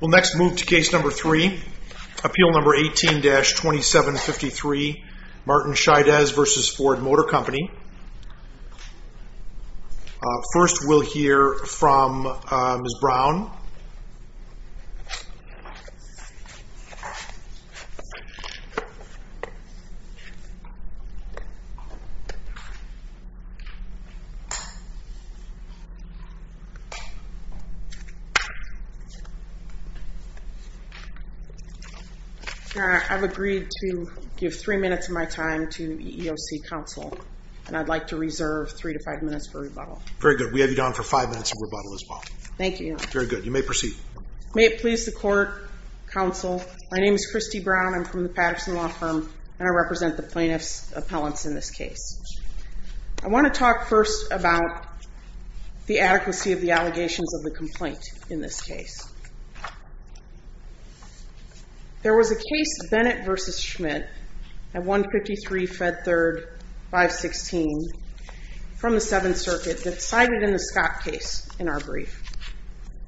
We'll next move to case number three, appeal number 18-2753, Martin Chaidez v. Ford Motor Company. First, we'll hear from Ms. Brown. I've agreed to give three minutes of my time to EEOC counsel, and I'd like to reserve three to five minutes for rebuttal. Very good. We have you down for five minutes of rebuttal as well. Thank you. Very good. You may proceed. May it please the court, counsel, my name is Christy Brown. I'm from the Patterson Law Firm, and I represent the plaintiff's appellants in this case. I want to talk first about the adequacy of the allegations of the complaint in this case. There was a case, Bennett v. Schmidt, at 153 Fed Third 516 from the Seventh Circuit that's cited in the Scott case in our brief.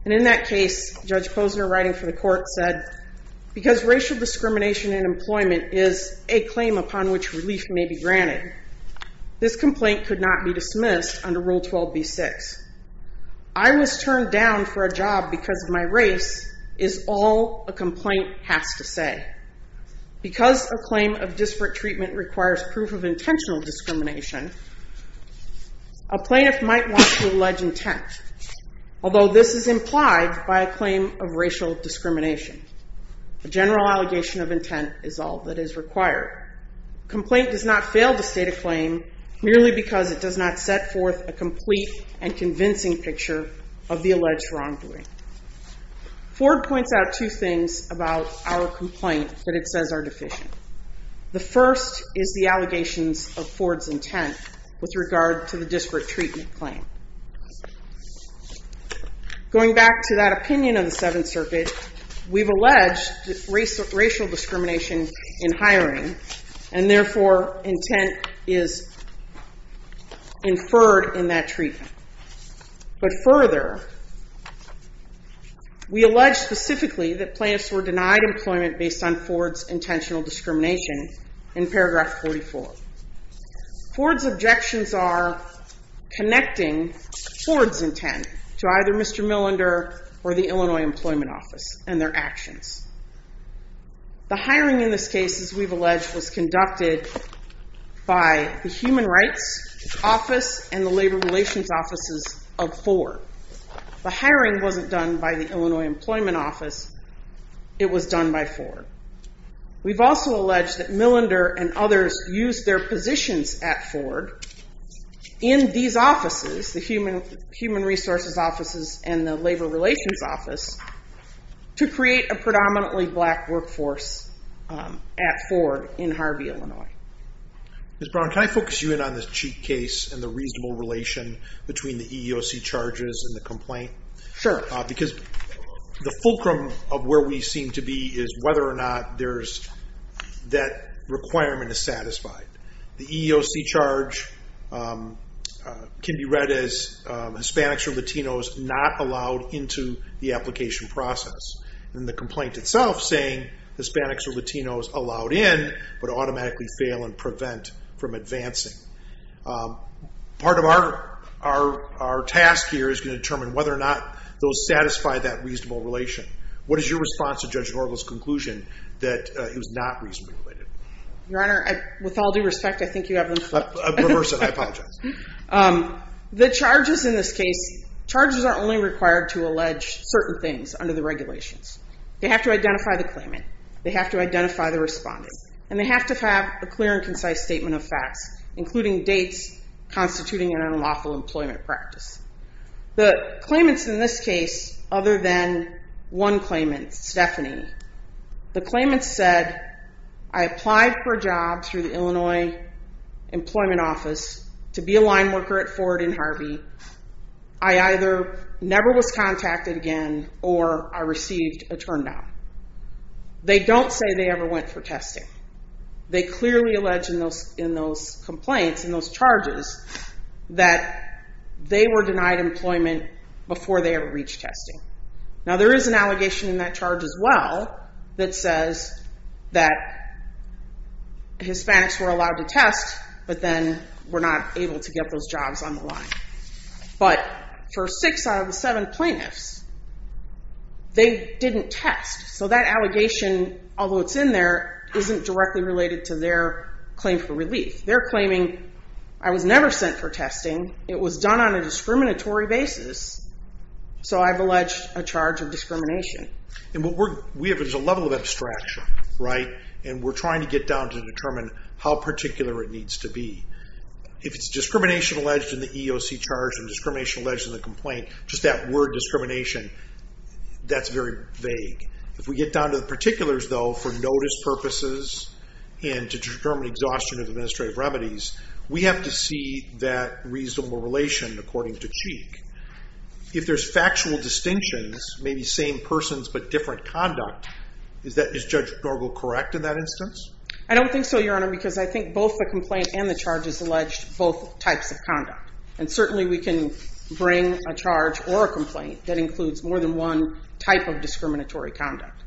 And in that case, Judge Posner writing for the court said, because racial discrimination in employment is a claim upon which relief may be granted, this complaint could not be dismissed under Rule 12b-6. I was turned down for a job because of my race is all a complaint has to say. Because a claim of disparate treatment requires proof of intentional discrimination, a plaintiff might want to allege intent, although this is implied by a claim of racial discrimination. A general allegation of intent is all that is required. A complaint does not fail to state a claim merely because it does not set forth a complete and convincing picture of the alleged wrongdoing. Ford points out two things about our complaint that it says are deficient. The first is the allegations of Ford's intent with regard to the disparate treatment claim. Going back to that opinion of the Seventh Circuit, we've alleged racial discrimination in hiring, and therefore intent is inferred in that treatment. But further, we allege specifically that plaintiffs were denied employment based on Ford's intentional discrimination in paragraph 44. Ford's objections are connecting Ford's intent to either Mr. Millender or the Illinois Employment Office and their actions. The hiring in this case, as we've alleged, was conducted by the Human Rights Office and the Labor Relations Offices of Ford. The hiring wasn't done by the Illinois Employment Office. It was done by Ford. We've also alleged that Millender and others used their positions at Ford in these offices, the Human Resources Offices and the Labor Relations Office, to create a predominantly black workforce at Ford in Harvey, Illinois. Mr. Brown, can I focus you in on this cheat case and the reasonable relation between the EEOC charges and the complaint? Sure. Because the fulcrum of where we seem to be is whether or not that requirement is satisfied. The EEOC charge can be read as Hispanics or Latinos not allowed into the application process. And the complaint itself saying Hispanics or Latinos allowed in, but automatically fail and prevent from advancing. Part of our task here is to determine whether or not those satisfy that reasonable relation. What is your response to Judge Norgo's conclusion that it was not reasonably related? Your Honor, with all due respect, I think you have them flipped. Reverse it. I apologize. The charges in this case, charges are only required to allege certain things under the regulations. They have to identify the claimant. They have to identify the respondent. And they have to have a clear and concise statement of facts, including dates, constituting an unlawful employment practice. The claimants in this case, other than one claimant, Stephanie, the claimants said, I applied for a job through the Illinois Employment Office to be a line worker at Ford and Harvey. I either never was contacted again or I received a turn down. They don't say they ever went for testing. They clearly allege in those complaints, in those charges, that they were denied employment before they ever reached testing. Now there is an allegation in that charge as well that says that Hispanics were allowed to test, but then were not able to get those jobs on the line. But for six out of the seven plaintiffs, they didn't test. So that allegation, although it's in there, isn't directly related to their claim for relief. They're claiming, I was never sent for testing. It was done on a discriminatory basis. So I've alleged a charge of discrimination. And what we have is a level of abstraction, right? And we're trying to get down to determine how particular it needs to be. If it's discrimination alleged in the EEOC charge and discrimination alleged in the complaint, just that word discrimination, that's very vague. If we get down to the particulars, though, for notice purposes and to determine exhaustion of administrative remedies, we have to see that reasonable relation according to Cheek. If there's factual distinctions, maybe same persons but different conduct, is Judge Norgal correct in that instance? I don't think so, Your Honor, because I think both the complaint and the charge is alleged both types of conduct. And certainly we can bring a charge or a complaint that includes more than one type of discriminatory conduct.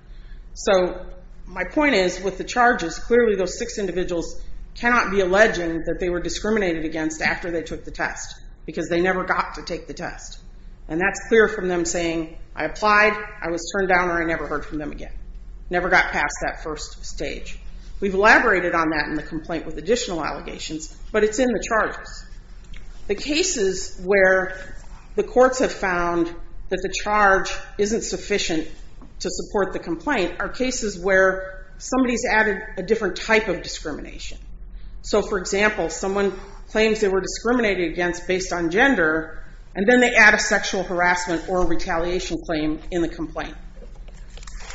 So my point is, with the charges, clearly those six individuals cannot be alleged that they were discriminated against after they took the test because they never got to take the test. And that's clear from them saying, I applied, I was turned down, or I never heard from them again. Never got past that first stage. We've elaborated on that in the complaint with additional allegations, but it's in the charges. The cases where the courts have found that the charge isn't sufficient to support the complaint are cases where somebody's added a different type of discrimination. So, for example, someone claims they were discriminated against based on gender, and then they add a sexual harassment or retaliation claim in the complaint.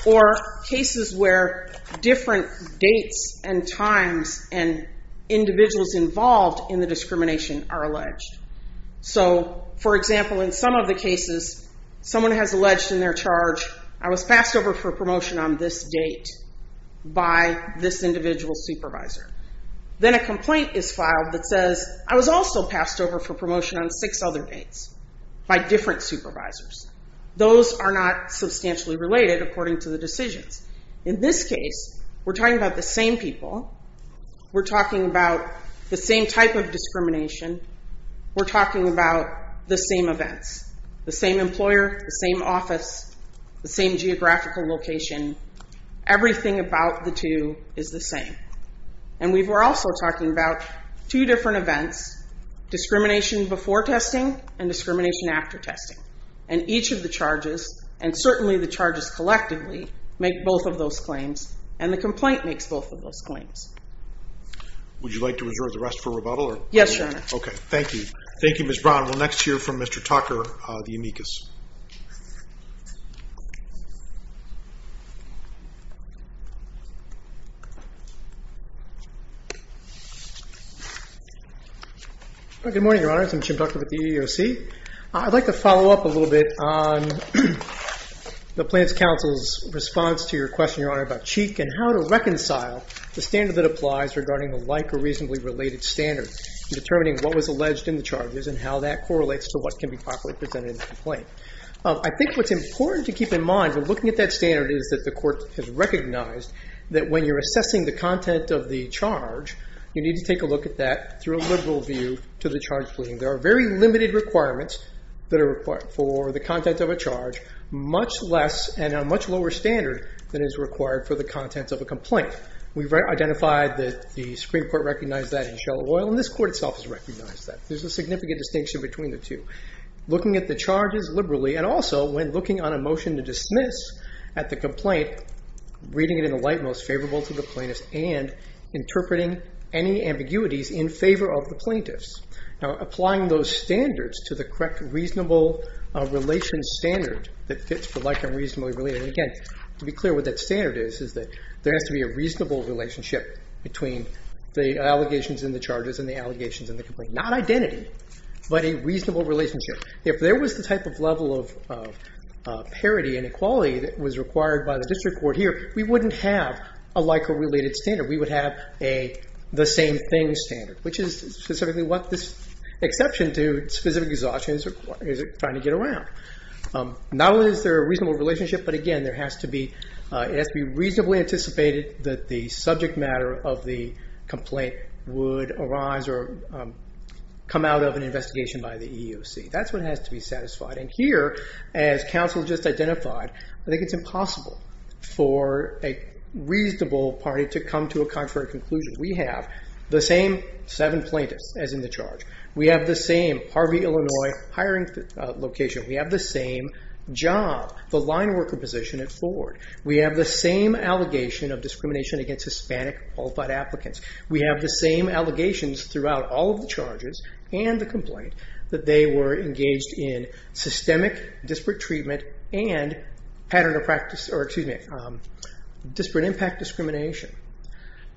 Or cases where different dates and times and individuals involved in the discrimination are alleged. So, for example, in some of the cases, someone has alleged in their charge, I was passed over for promotion on this date by this individual supervisor. Then a complaint is filed that says, I was also passed over for promotion on six other dates by different supervisors. Those are not substantially related according to the decisions. In this case, we're talking about the same people. We're talking about the same type of discrimination. We're talking about the same events. The same employer, the same office, the same geographical location. Everything about the two is the same. And we were also talking about two different events. Discrimination before testing and discrimination after testing. And each of the charges, and certainly the charges collectively, make both of those claims. And the complaint makes both of those claims. Would you like to reserve the rest for rebuttal? Yes, Your Honor. Okay, thank you. Thank you, Ms. Brown. We'll next hear from Mr. Tucker of the amicus. Good morning, Your Honor. I'm Jim Tucker with the EEOC. I'd like to follow up a little bit on the Plaintiff's Counsel's response to your question, Your Honor, about Cheek and how to reconcile the standard that applies regarding the like or reasonably related standard in determining what was alleged in the charges and how that correlates to what can be properly presented in the complaint. I think what's important to keep in mind when looking at that standard is that the court has recognized that when you're assessing the content of the charge, you need to take a look at that through a liberal view to the charge pleading. There are very limited requirements that are required for the content of a charge, much less and a much lower standard than is required for the contents of a complaint. We've identified that the Supreme Court recognized that in shallow oil, and this court itself has recognized that. There's a significant distinction between the two. Looking at the charges liberally and also when looking on a motion to dismiss at the complaint, reading it in a light most favorable to the plaintiff and interpreting any ambiguities in favor of the plaintiffs. Now, applying those standards to the correct reasonable relations standard that fits for like and reasonably related, and again, to be clear what that standard is, is that there has to be a reasonable relationship between the allegations in the charges and the allegations in the complaint. Not identity, but a reasonable relationship. If there was the type of level of parity and equality that was required by the district court here, we wouldn't have a like or related standard. We would have the same thing standard, which is specifically what this exception to specific exhaustion is trying to get around. Not only is there a reasonable relationship, but again, it has to be reasonably anticipated that the subject matter of the complaint would arise or come out of an investigation by the EEOC. That's what has to be satisfied. Here, as counsel just identified, I think it's impossible for a reasonable party to come to a contrary conclusion. We have the same seven plaintiffs as in the charge. We have the same Harvey, Illinois hiring location. We have the same job, the line worker position at Ford. We have the same allegation of discrimination against Hispanic qualified applicants. We have the same allegations throughout all of the charges and the complaint that they were engaged in systemic disparate treatment and pattern of practice, or excuse me, disparate impact discrimination.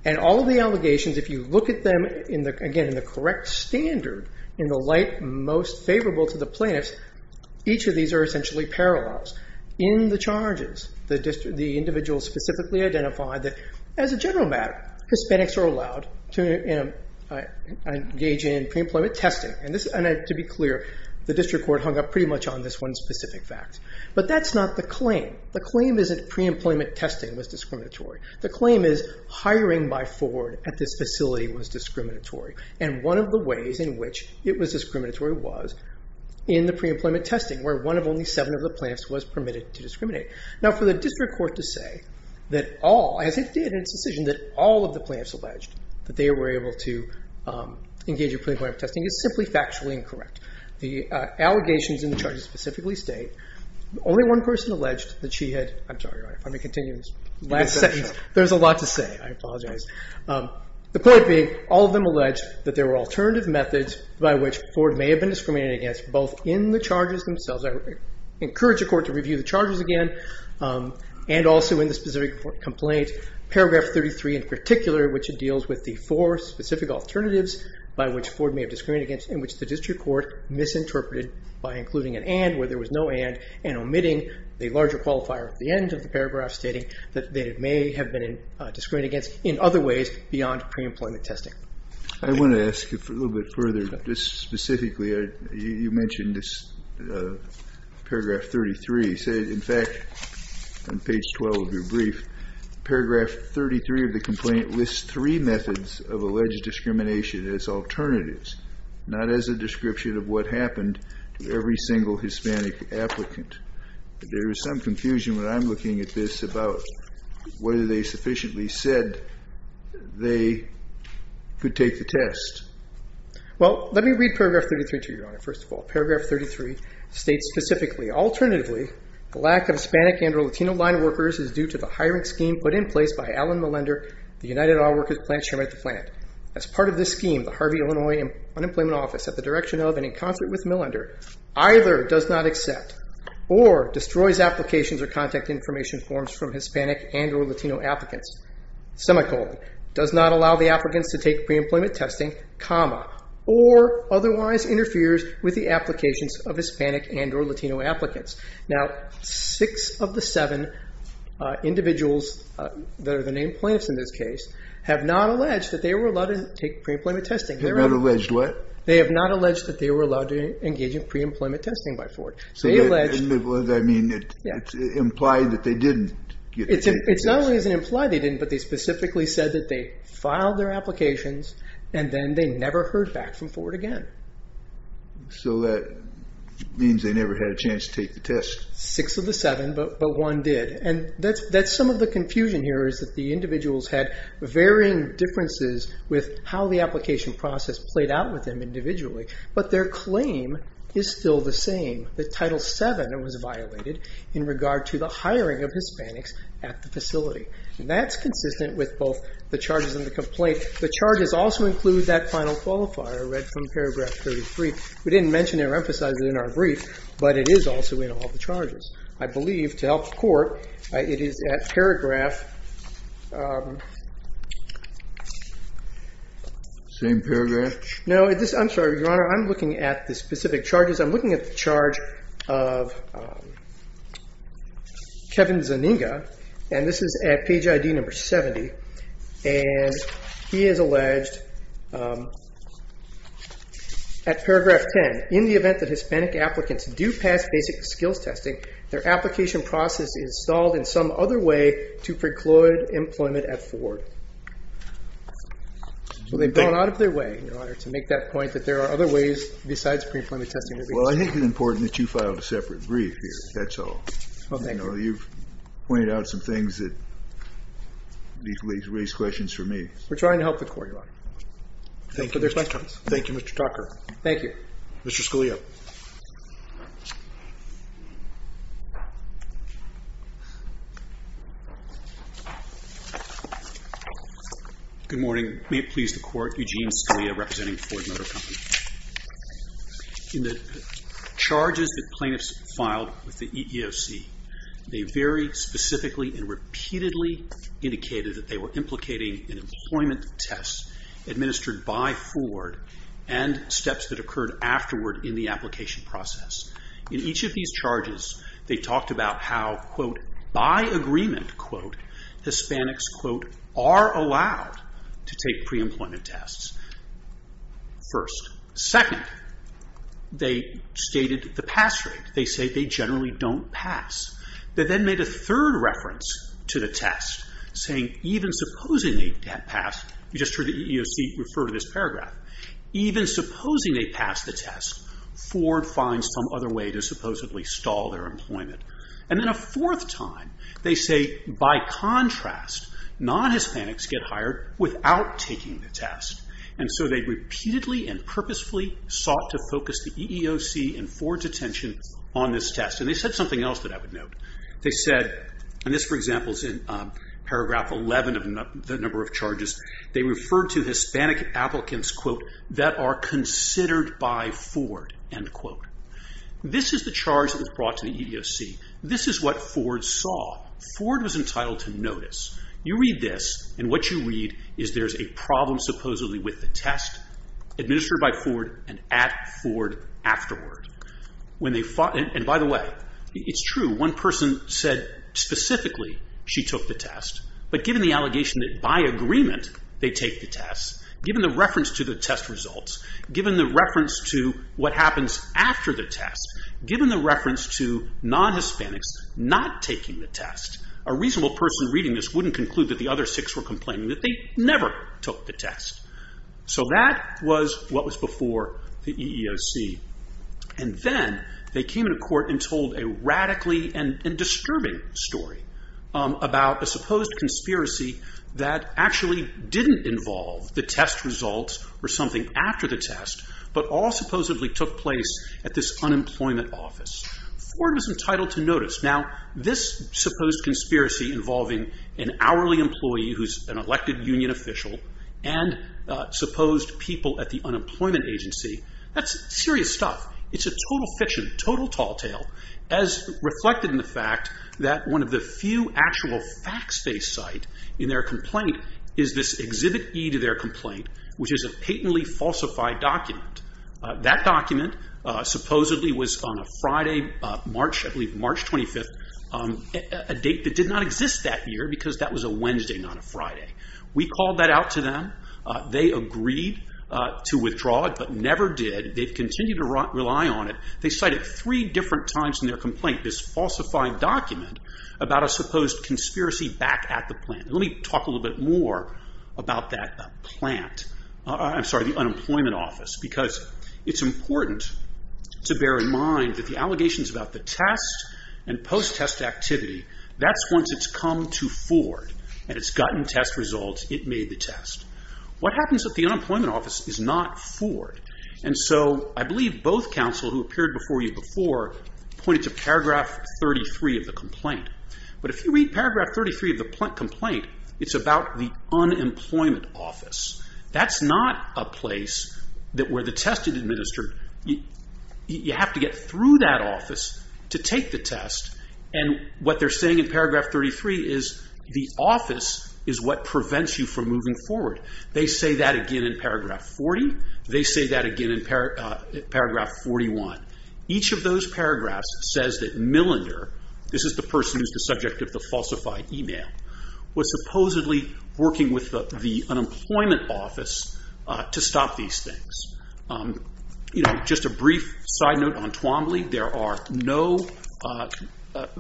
And all of the allegations, if you look at them, again, in the correct standard, in the light most favorable to the plaintiffs, each of these are essentially parallels. In the charges, the individual specifically identified that as a general matter, Hispanics are allowed to engage in pre-employment testing. And to be clear, the district court hung up pretty much on this one specific fact. But that's not the claim. The claim is that pre-employment testing was discriminatory. The claim is hiring by Ford at this facility was discriminatory. And one of the ways in which it was discriminatory was in the pre-employment testing Now, for the district court to say that all, as it did in its decision, that all of the plaintiffs alleged that they were able to engage in pre-employment testing is simply factually incorrect. The allegations in the charges specifically state only one person alleged that she had, I'm sorry, Your Honor, if I may continue in this last section, there's a lot to say. I apologize. The point being, all of them alleged that there were alternative methods by which Ford may have been discriminated against both in the charges themselves. I encourage the court to review the charges again. And also in the specific complaint, paragraph 33 in particular, which deals with the four specific alternatives by which Ford may have discriminated against and which the district court misinterpreted by including an and where there was no and and omitting the larger qualifier at the end of the paragraph stating that they may have been discriminated against in other ways beyond pre-employment testing. I want to ask you a little bit further. Just specifically, you mentioned paragraph 33. In fact, on page 12 of your brief, paragraph 33 of the complaint lists three methods of alleged discrimination as alternatives, not as a description of what happened to every single Hispanic applicant. There is some confusion when I'm looking at this about whether they sufficiently said they could take the test. Well, let me read paragraph 33 to you, Your Honor. First of all, paragraph 33 states specifically, alternatively the lack of Hispanic and or Latino line workers is due to the hiring scheme put in place by Alan Millender, the United Oil Workers Plant Chairman at the plant. As part of this scheme, the Harvey Illinois Unemployment Office at the direction of and in concert with Millender either does not accept or destroys applications or contact information forms from Hispanic and or Latino applicants. Semicolon. Does not allow the applicants to take pre-employment testing, comma, or otherwise interferes with the applications of Hispanic and or Latino applicants. Now, six of the seven individuals that are the named plaintiffs in this case have not alleged that they were allowed to take pre-employment testing. They have not alleged what? They have not alleged that they were allowed to engage in pre-employment testing by Ford. So they alleged. I mean, it's implied that they didn't. It's not only implied they didn't, but they specifically said that they filed their applications and then they never heard back from Ford again. So that means they never had a chance to take the test. Six of the seven, but one did. And that's some of the confusion here is that the individuals had varying differences with how the application process played out with them individually. But their claim is still the same. The title seven was violated in regard to the hiring of Hispanics at the facility. And that's consistent with both the charges and the complaint. The charges also include that final qualifier read from paragraph 33. We didn't mention or emphasize it in our brief, but it is also in all the charges. I believe to help the Court, it is at paragraph. Same paragraph? No. I'm sorry, Your Honor. I'm looking at the specific charges. I'm looking at the charge of Kevin Zeninga, and this is at page ID number 70. And he has alleged at paragraph 10, in the event that Hispanic applicants do pass basic skills testing, their application process is stalled in some other way to preclude employment at Ford. So they've gone out of their way, Your Honor, to make that point that there are other ways besides pre-employment testing. Well, I think it's important that you filed a separate brief here. That's all. Well, thank you. You've pointed out some things that raised questions for me. We're trying to help the Court, Your Honor. Thank you, Mr. Tucker. Thank you. Mr. Scalia. Good morning. May it please the Court, Eugene Scalia, representing Ford Motor Company. In the charges that plaintiffs filed with the EEOC, they very specifically and repeatedly indicated that they were implicating in employment tests administered by Ford and steps that occurred afterward in the application process. In each of these charges, they talked about how, quote, are allowed to take pre-employment tests, first. Second, they stated the pass rate. They say they generally don't pass. They then made a third reference to the test, saying even supposing they pass, you just heard the EEOC refer to this paragraph, even supposing they pass the test, Ford finds some other way to supposedly stall their employment. And then a fourth time, they say, by contrast, non-Hispanics get hired without taking the test. And so they repeatedly and purposefully sought to focus the EEOC and Ford's attention on this test. And they said something else that I would note. They said, and this, for example, is in paragraph 11 of the number of charges, they referred to Hispanic applicants, quote, that are considered by Ford, end quote. This is the charge that was brought to the EEOC. This is what Ford saw. Ford was entitled to notice. You read this, and what you read is there's a problem supposedly with the test administered by Ford and at Ford afterward. And by the way, it's true. One person said specifically she took the test, but given the allegation that by agreement they take the test, given the reference to the test results, given the reference to what happens after the test, given the reference to non-Hispanics not taking the test, a reasonable person reading this wouldn't conclude that the other six were complaining that they never took the test. So that was what was before the EEOC. And then they came to court and told a radically and disturbing story about a supposed conspiracy that actually didn't involve the test results or something after the test, but all supposedly took place at this unemployment office. Ford was entitled to notice. Now, this supposed conspiracy involving an hourly employee who's an elected union official and supposed people at the unemployment agency, that's serious stuff. It's a total fiction, total tall tale, as reflected in the fact that one of the few actual facts they cite in their complaint is this exhibit E to their complaint, which is a patently falsified document. That document supposedly was on a Friday, March, I believe March 25th, a date that did not exist that year because that was a Wednesday, not a Friday. We called that out to them. They agreed to withdraw it, but never did. They've continued to rely on it. They cite it three different times in their complaint, this falsified document, about a supposed conspiracy back at the plant. Let me talk a little bit more about that plant. I'm sorry, the unemployment office. Because it's important to bear in mind that the allegations about the test and post-test activity, that's once it's come to Ford and it's gotten test results, it made the test. What happens at the unemployment office is not Ford. I believe both counsel who appeared before you before pointed to paragraph 33 of the complaint. But if you read paragraph 33 of the complaint, it's about the unemployment office. That's not a place where the test is administered. You have to get through that office to take the test. What they're saying in paragraph 33 is the office is what prevents you from moving forward. They say that again in paragraph 40. They say that again in paragraph 41. Each of those paragraphs says that Millender, this is the person who's the subject of the falsified email, was supposedly working with the unemployment office to stop these things. Just a brief side note on Twombly. There are no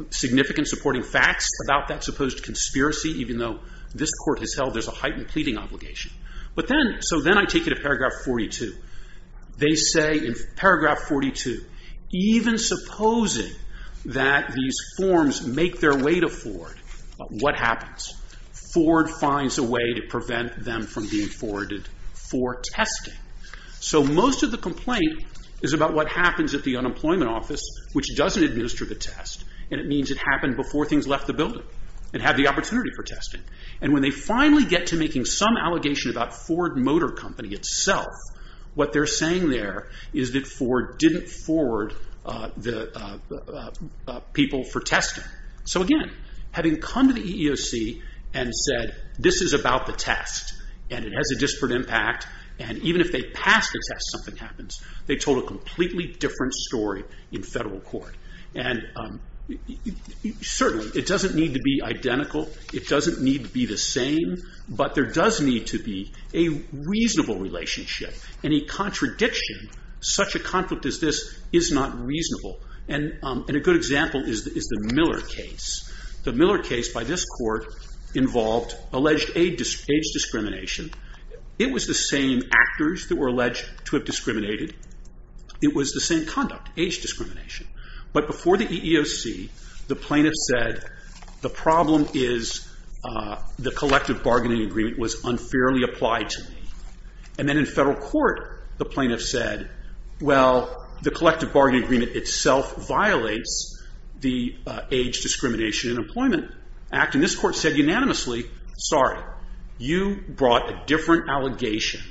significant supporting facts about that supposed conspiracy, even though this court has held there's a heightened pleading obligation. But then, so then I take you to paragraph 42. They say in paragraph 42, even supposing that these forms make their way to Ford, what happens? Ford finds a way to prevent them from being forwarded for testing. So most of the complaint is about what happens at the unemployment office, which doesn't administer the test, and it means it happened before things left the building and had the opportunity for testing. And when they finally get to making some allegation about Ford Motor Company itself, what they're saying there is that Ford didn't forward the people for testing. So again, having come to the EEOC and said, this is about the test, and it has a disparate impact, and even if they pass the test, something happens, they told a completely different story in federal court. And certainly it doesn't need to be identical. It doesn't need to be the same. But there does need to be a reasonable relationship. Any contradiction, such a conflict as this, is not reasonable. And a good example is the Miller case. The Miller case by this court involved alleged age discrimination. It was the same actors that were alleged to have discriminated. It was the same conduct, age discrimination. But before the EEOC, the plaintiff said, the problem is the collective bargaining agreement was unfairly applied to me. And then in federal court, the plaintiff said, well, the collective bargaining agreement itself violates the Age Discrimination in Employment Act. And this court said unanimously, sorry, you brought a different allegation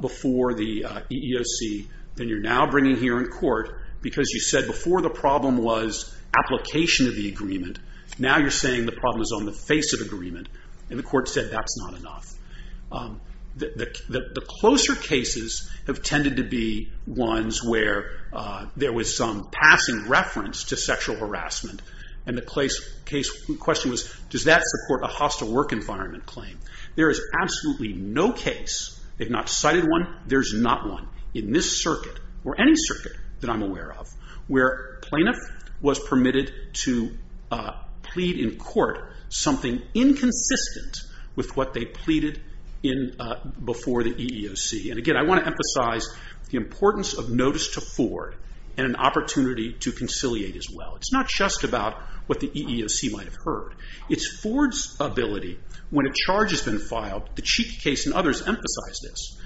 before the EEOC than you're now bringing here in court because you said before the problem was application of the agreement. Now you're saying the problem is on the face of agreement. And the court said that's not enough. The closer cases have tended to be ones where there was some passing reference to sexual harassment. And the question was, does that support a hostile work environment claim? There is absolutely no case, if not cited one, there's not one. In this circuit, or any circuit that I'm aware of, where plaintiff was permitted to plead in court something inconsistent with what they pleaded before the EEOC. And again, I want to emphasize the importance of notice to Ford and an opportunity to conciliate as well. It's not just about what the EEOC might have heard. It's Ford's ability, when a charge has been filed, the Cheeky case and others emphasize this.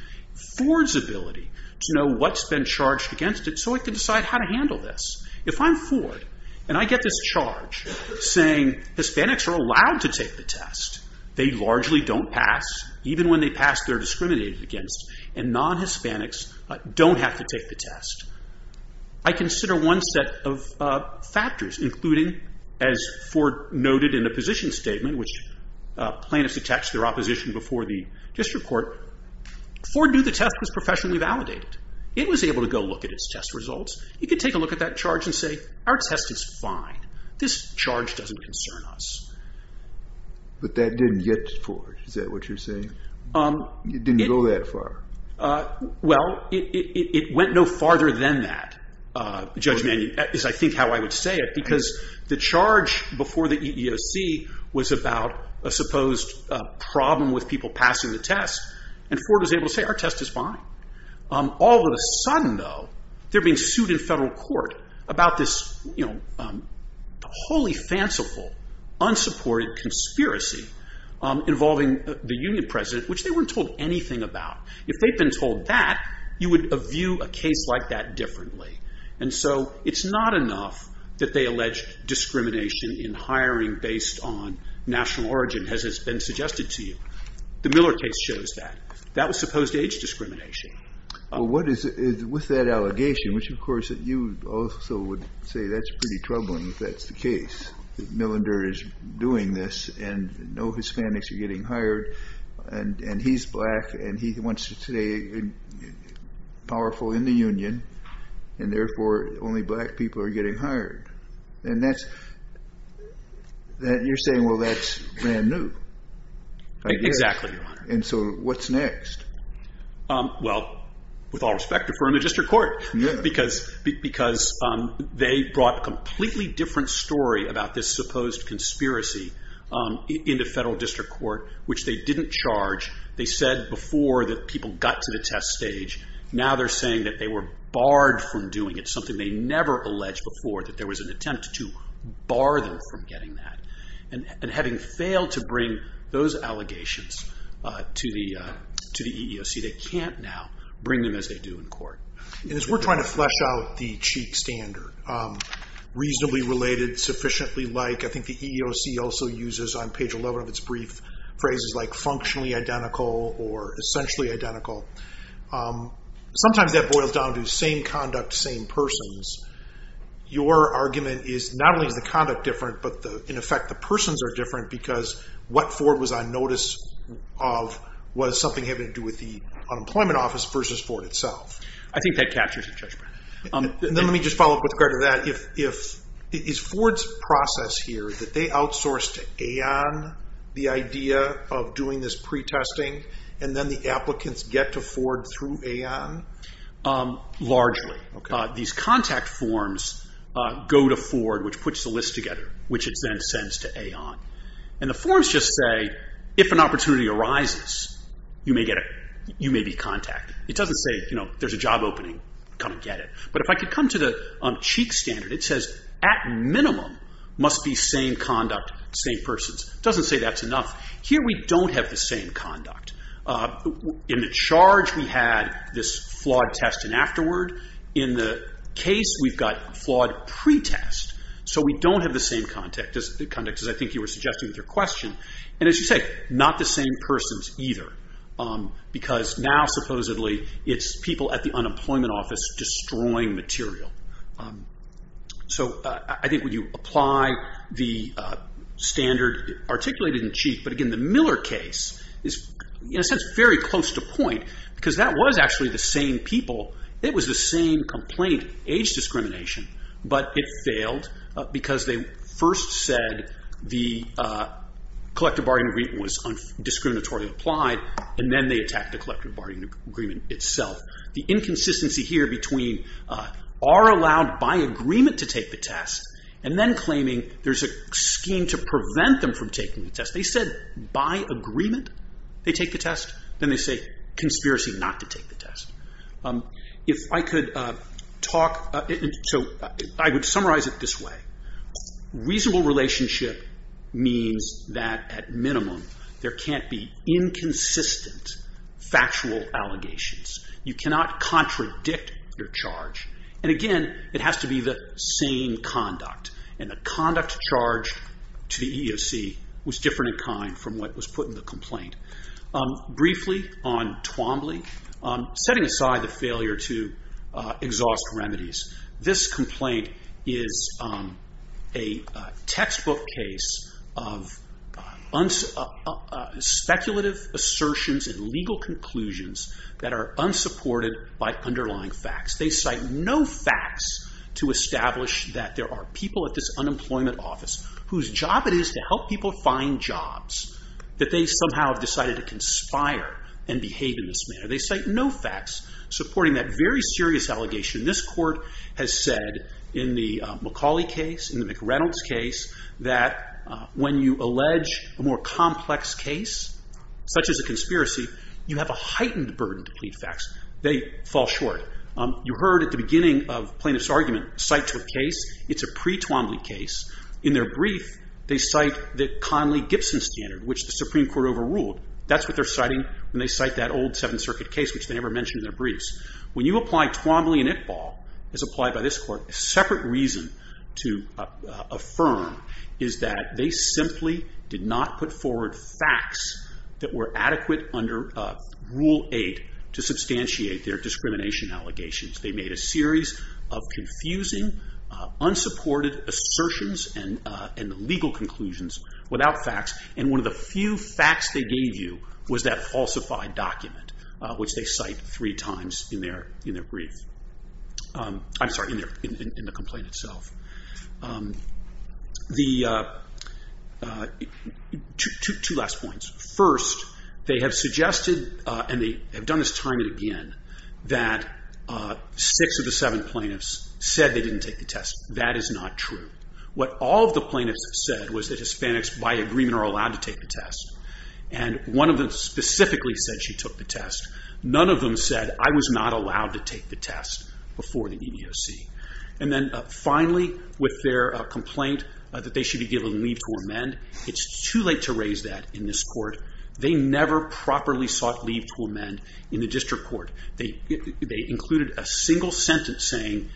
Ford's ability to know what's been charged against it so he can decide how to handle this. If I'm Ford, and I get this charge saying Hispanics are allowed to take the test, they largely don't pass, even when they pass they're discriminated against, and non-Hispanics don't have to take the test. I consider one set of factors, including, as Ford noted in the position statement, which plaintiffs attached to their opposition before the district court, Ford knew the test was professionally validated. It was able to go look at its test results. It could take a look at that charge and say, our test is fine. This charge doesn't concern us. But that didn't get to Ford, is that what you're saying? It didn't go that far. Well, it went no farther than that. That is, I think, how I would say it, because the charge before the EEOC was about a supposed problem with people passing the test, and Ford was able to say, our test is fine. All of a sudden, though, they're being sued in federal court about this wholly fanciful, unsupported conspiracy involving the union president, which they weren't told anything about. If they'd been told that, you would view a case like that differently. And so it's not enough that they allege discrimination in hiring based on national origin, as has been suggested to you. The Miller case shows that. That was supposed age discrimination. Well, what is it with that allegation, which, of course, you also would say that's pretty troubling if that's the case, that Millender is doing this, and no Hispanics are getting hired, and he's black, and he wants to stay powerful in the union, and therefore, only black people are getting hired. And you're saying, well, that's brand new, I guess. Exactly, Your Honor. And so what's next? Well, with all respect, defer to district court, because they brought a completely different story about this supposed conspiracy into federal district court, which they didn't charge. They said before that people got to the test stage. Now they're saying that they were barred from doing it, something they never alleged before, that there was an attempt to bar them from getting that. And having failed to bring those allegations to the EEOC, they can't now bring them as they do in court. And as we're trying to flesh out the cheat standard, reasonably related, sufficiently like, I think the EEOC also uses on page 11 of its brief phrases like functionally identical or essentially identical. Sometimes that boils down to same conduct, same persons. Your argument is not only is the conduct different, but in effect, the persons are different, because what Ford was on notice of was something having to do with the unemployment office versus Ford itself. I think that captures the judgment. Let me just follow up with regard to that. Is Ford's process here that they outsource to AON the idea of doing this pretesting, and then the applicants get to Ford through AON? Largely. These contact forms go to Ford, which puts the list together, which it then sends to AON. And the forms just say if an opportunity arises, you may be contacted. It doesn't say there's a job opening, come and get it. But if I could come to the cheat standard, it says at minimum must be same conduct, same persons. It doesn't say that's enough. Here we don't have the same conduct. In the charge, we had this flawed test and afterward. In the case, we've got flawed pretest. So we don't have the same conduct, as I think you were suggesting with your question. And as you say, not the same persons either, because now supposedly it's people at the unemployment office destroying material. So I think when you apply the standard articulated in cheat, but again the Miller case is in a sense very close to point, because that was actually the same people. It was the same complaint, age discrimination, but it failed because they first said the collective bargaining agreement was discriminatorily applied. And then they attacked the collective bargaining agreement itself. The inconsistency here between are allowed by agreement to take the test, and then claiming there's a scheme to prevent them from taking the test. They said by agreement they take the test. Then they say conspiracy not to take the test. If I could talk, so I would summarize it this way. Reasonable relationship means that at minimum there can't be inconsistent factual allegations. You cannot contradict your charge. And again, it has to be the same conduct. And the conduct charged to the EEOC was different in kind from what was put in the complaint. Briefly on Twombly, setting aside the failure to exhaust remedies, this complaint is a textbook case of speculative assertions and legal conclusions that are unsupported by underlying facts. They cite no facts to establish that there are people at this unemployment office whose job it is to help people find jobs, that they somehow have decided to conspire and behave in this manner. They cite no facts supporting that very serious allegation. This court has said in the McCauley case, in the McReynolds case, that when you allege a more complex case, such as a conspiracy, you have a heightened burden to plead facts. They fall short. You heard at the beginning of plaintiff's argument, cite to a case. It's a pre-Twombly case. In their brief, they cite the Conley-Gibson standard, which the Supreme Court overruled. That's what they're citing when they cite that old Seventh Circuit case, which they never mention in their briefs. When you apply Twombly and Iqbal, as applied by this court, a separate reason to affirm is that they simply did not put forward facts that were adequate under Rule 8 to substantiate their discrimination allegations. They made a series of confusing, unsupported assertions and legal conclusions without facts, and one of the few facts they gave you was that falsified document, which they cite three times in their brief. I'm sorry, in the complaint itself. Two last points. First, they have suggested, and they have done this time and again, that six of the seven plaintiffs said they didn't take the test. That is not true. What all of the plaintiffs said was that Hispanics, by agreement, are allowed to take the test, and one of them specifically said she took the test. None of them said, I was not allowed to take the test before the EEOC. And then finally, with their complaint that they should be given leave to amend, it's too late to raise that in this court. They never properly sought leave to amend in the district court. They included a single sentence saying,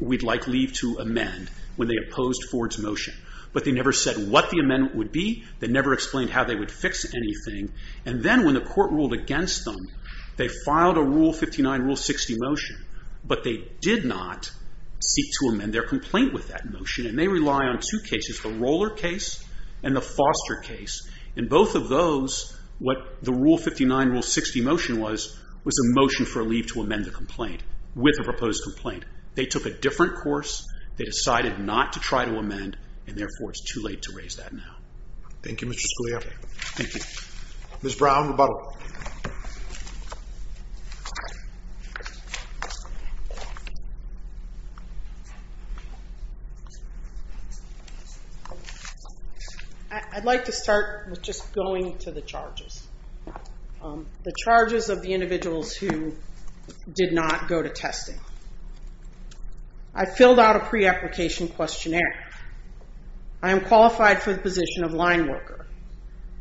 we'd like leave to amend when they opposed Ford's motion, but they never said what the amendment would be. They never explained how they would fix anything. And then when the court ruled against them, they filed a Rule 59, Rule 60 motion, but they did not seek to amend their complaint with that motion, and they rely on two cases, the Roller case and the Foster case. In both of those, what the Rule 59, Rule 60 motion was, was a motion for leave to amend the complaint with a proposed complaint. They took a different course. They decided not to try to amend, and therefore it's too late to raise that now. Thank you, Mr. Scalia. Thank you. Ms. Brown, rebuttal. I'd like to start with just going to the charges. The charges of the individuals who did not go to testing. I filled out a pre-application questionnaire. I am qualified for the position of line worker.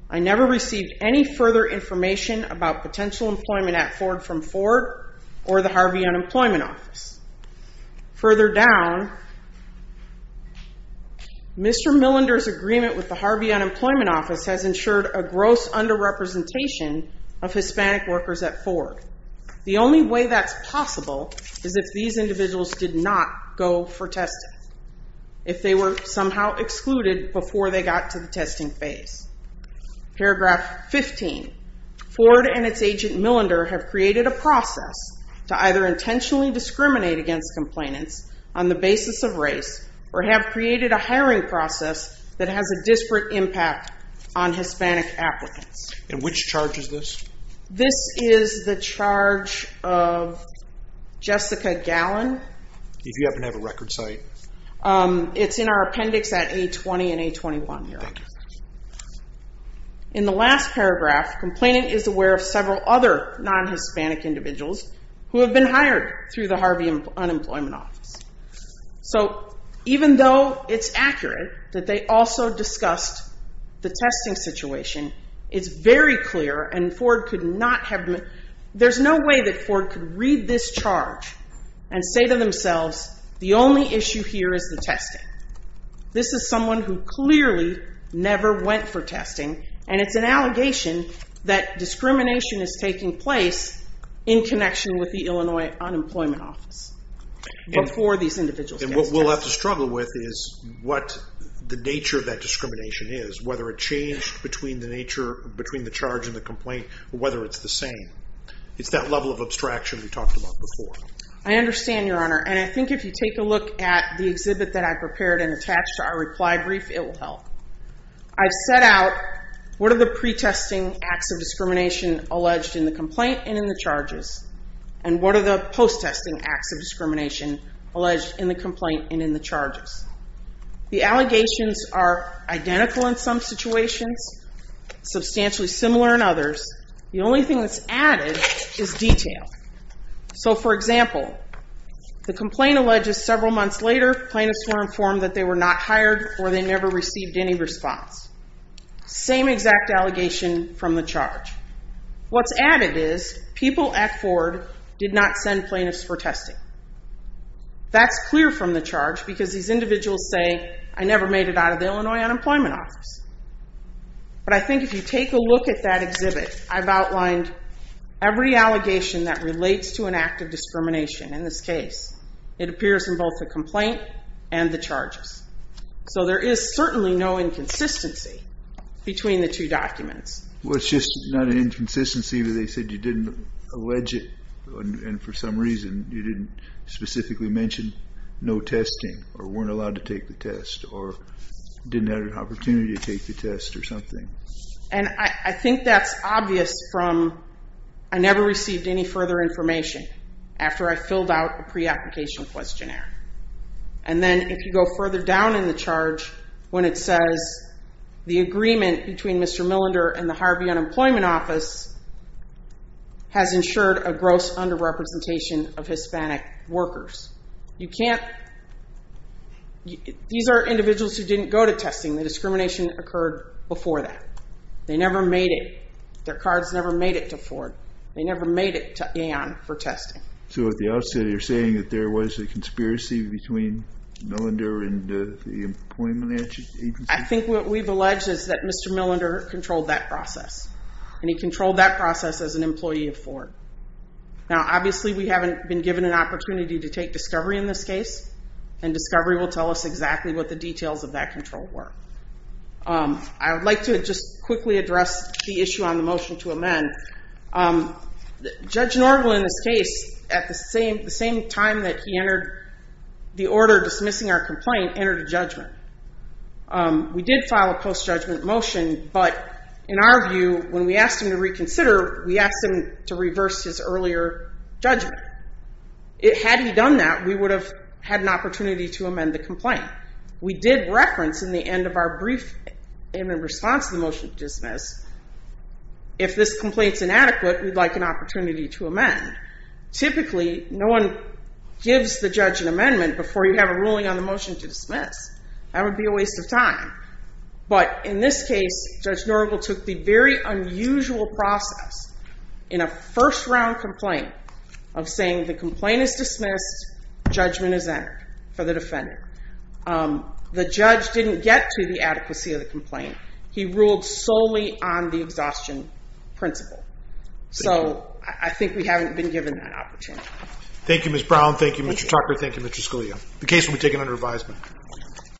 I never received any further information about potential employment at Ford from Ford or the Harvey Unemployment Office. Further down, Mr. Millender's agreement with the Harvey Unemployment Office has ensured a gross under-representation of Hispanic workers at Ford. The only way that's possible is if these individuals did not go for testing, if they were somehow excluded before they got to the testing phase. Paragraph 15, Ford and its agent Millender have created a process to either intentionally discriminate against complainants on the basis of race or have created a hiring process that has a disparate impact on Hispanic applicants. And which charge is this? This is the charge of Jessica Gallon. If you happen to have a record site. It's in our appendix at A20 and A21 here. Thank you. In the last paragraph, complainant is aware of several other non-Hispanic individuals who have been hired through the Harvey Unemployment Office. So even though it's accurate that they also discussed the testing situation, it's very clear, and Ford could not have, there's no way that Ford could read this charge and say to themselves, the only issue here is the testing. This is someone who clearly never went for testing, and it's an allegation that discrimination is taking place in connection with the Illinois Unemployment Office before these individuals get tested. And what we'll have to struggle with is what the nature of that discrimination is, whether it changed between the charge and the complaint, or whether it's the same. It's that level of abstraction we talked about before. I understand, Your Honor, and I think if you take a look at the exhibit that I prepared and attached to our reply brief, it will help. I've set out what are the pre-testing acts of discrimination alleged in the complaint and in the charges, and what are the post-testing acts of discrimination alleged in the complaint and in the charges. The allegations are identical in some situations, substantially similar in others. The only thing that's added is detail. So, for example, the complaint alleges several months later plaintiffs were informed that they were not hired or they never received any response. Same exact allegation from the charge. What's added is people at Ford did not send plaintiffs for testing. That's clear from the charge because these individuals say, I never made it out of the Illinois Unemployment Office. But I think if you take a look at that exhibit, I've outlined every allegation that relates to an act of discrimination. In this case, it appears in both the complaint and the charges. So there is certainly no inconsistency between the two documents. Well, it's just not an inconsistency where they said you didn't allege it and for some reason you didn't specifically mention no testing or weren't allowed to take the test or didn't have an opportunity to take the test or something. And I think that's obvious from I never received any further information after I filled out a pre-application questionnaire. And then if you go further down in the charge when it says the agreement between Mr. Millender and the Harvey Unemployment Office has ensured a gross under-representation of Hispanic workers. You can't – these are individuals who didn't go to testing. The discrimination occurred before that. They never made it. Their cards never made it to Ford. They never made it to Aon for testing. So at the outset, you're saying that there was a conspiracy between Millender and the employment agency? I think what we've alleged is that Mr. Millender controlled that process and he controlled that process as an employee of Ford. Now, obviously, we haven't been given an opportunity to take discovery in this case, and discovery will tell us exactly what the details of that control were. I would like to just quickly address the issue on the motion to amend. Judge Norville, in this case, at the same time that he entered the order dismissing our complaint, entered a judgment. We did file a post-judgment motion, but in our view, when we asked him to reconsider, we asked him to reverse his earlier judgment. Had he done that, we would have had an opportunity to amend the complaint. We did reference in the end of our brief and in response to the motion to dismiss, if this complaint's inadequate, we'd like an opportunity to amend. Typically, no one gives the judge an amendment before you have a ruling on the motion to dismiss. That would be a waste of time. But in this case, Judge Norville took the very unusual process in a first-round complaint of saying the complaint is dismissed, judgment is entered for the defendant. The judge didn't get to the adequacy of the complaint. He ruled solely on the exhaustion principle. So I think we haven't been given that opportunity. Thank you, Ms. Brown. Thank you, Mr. Tucker. Thank you, Mr. Scalia. The case will be taken under advisement.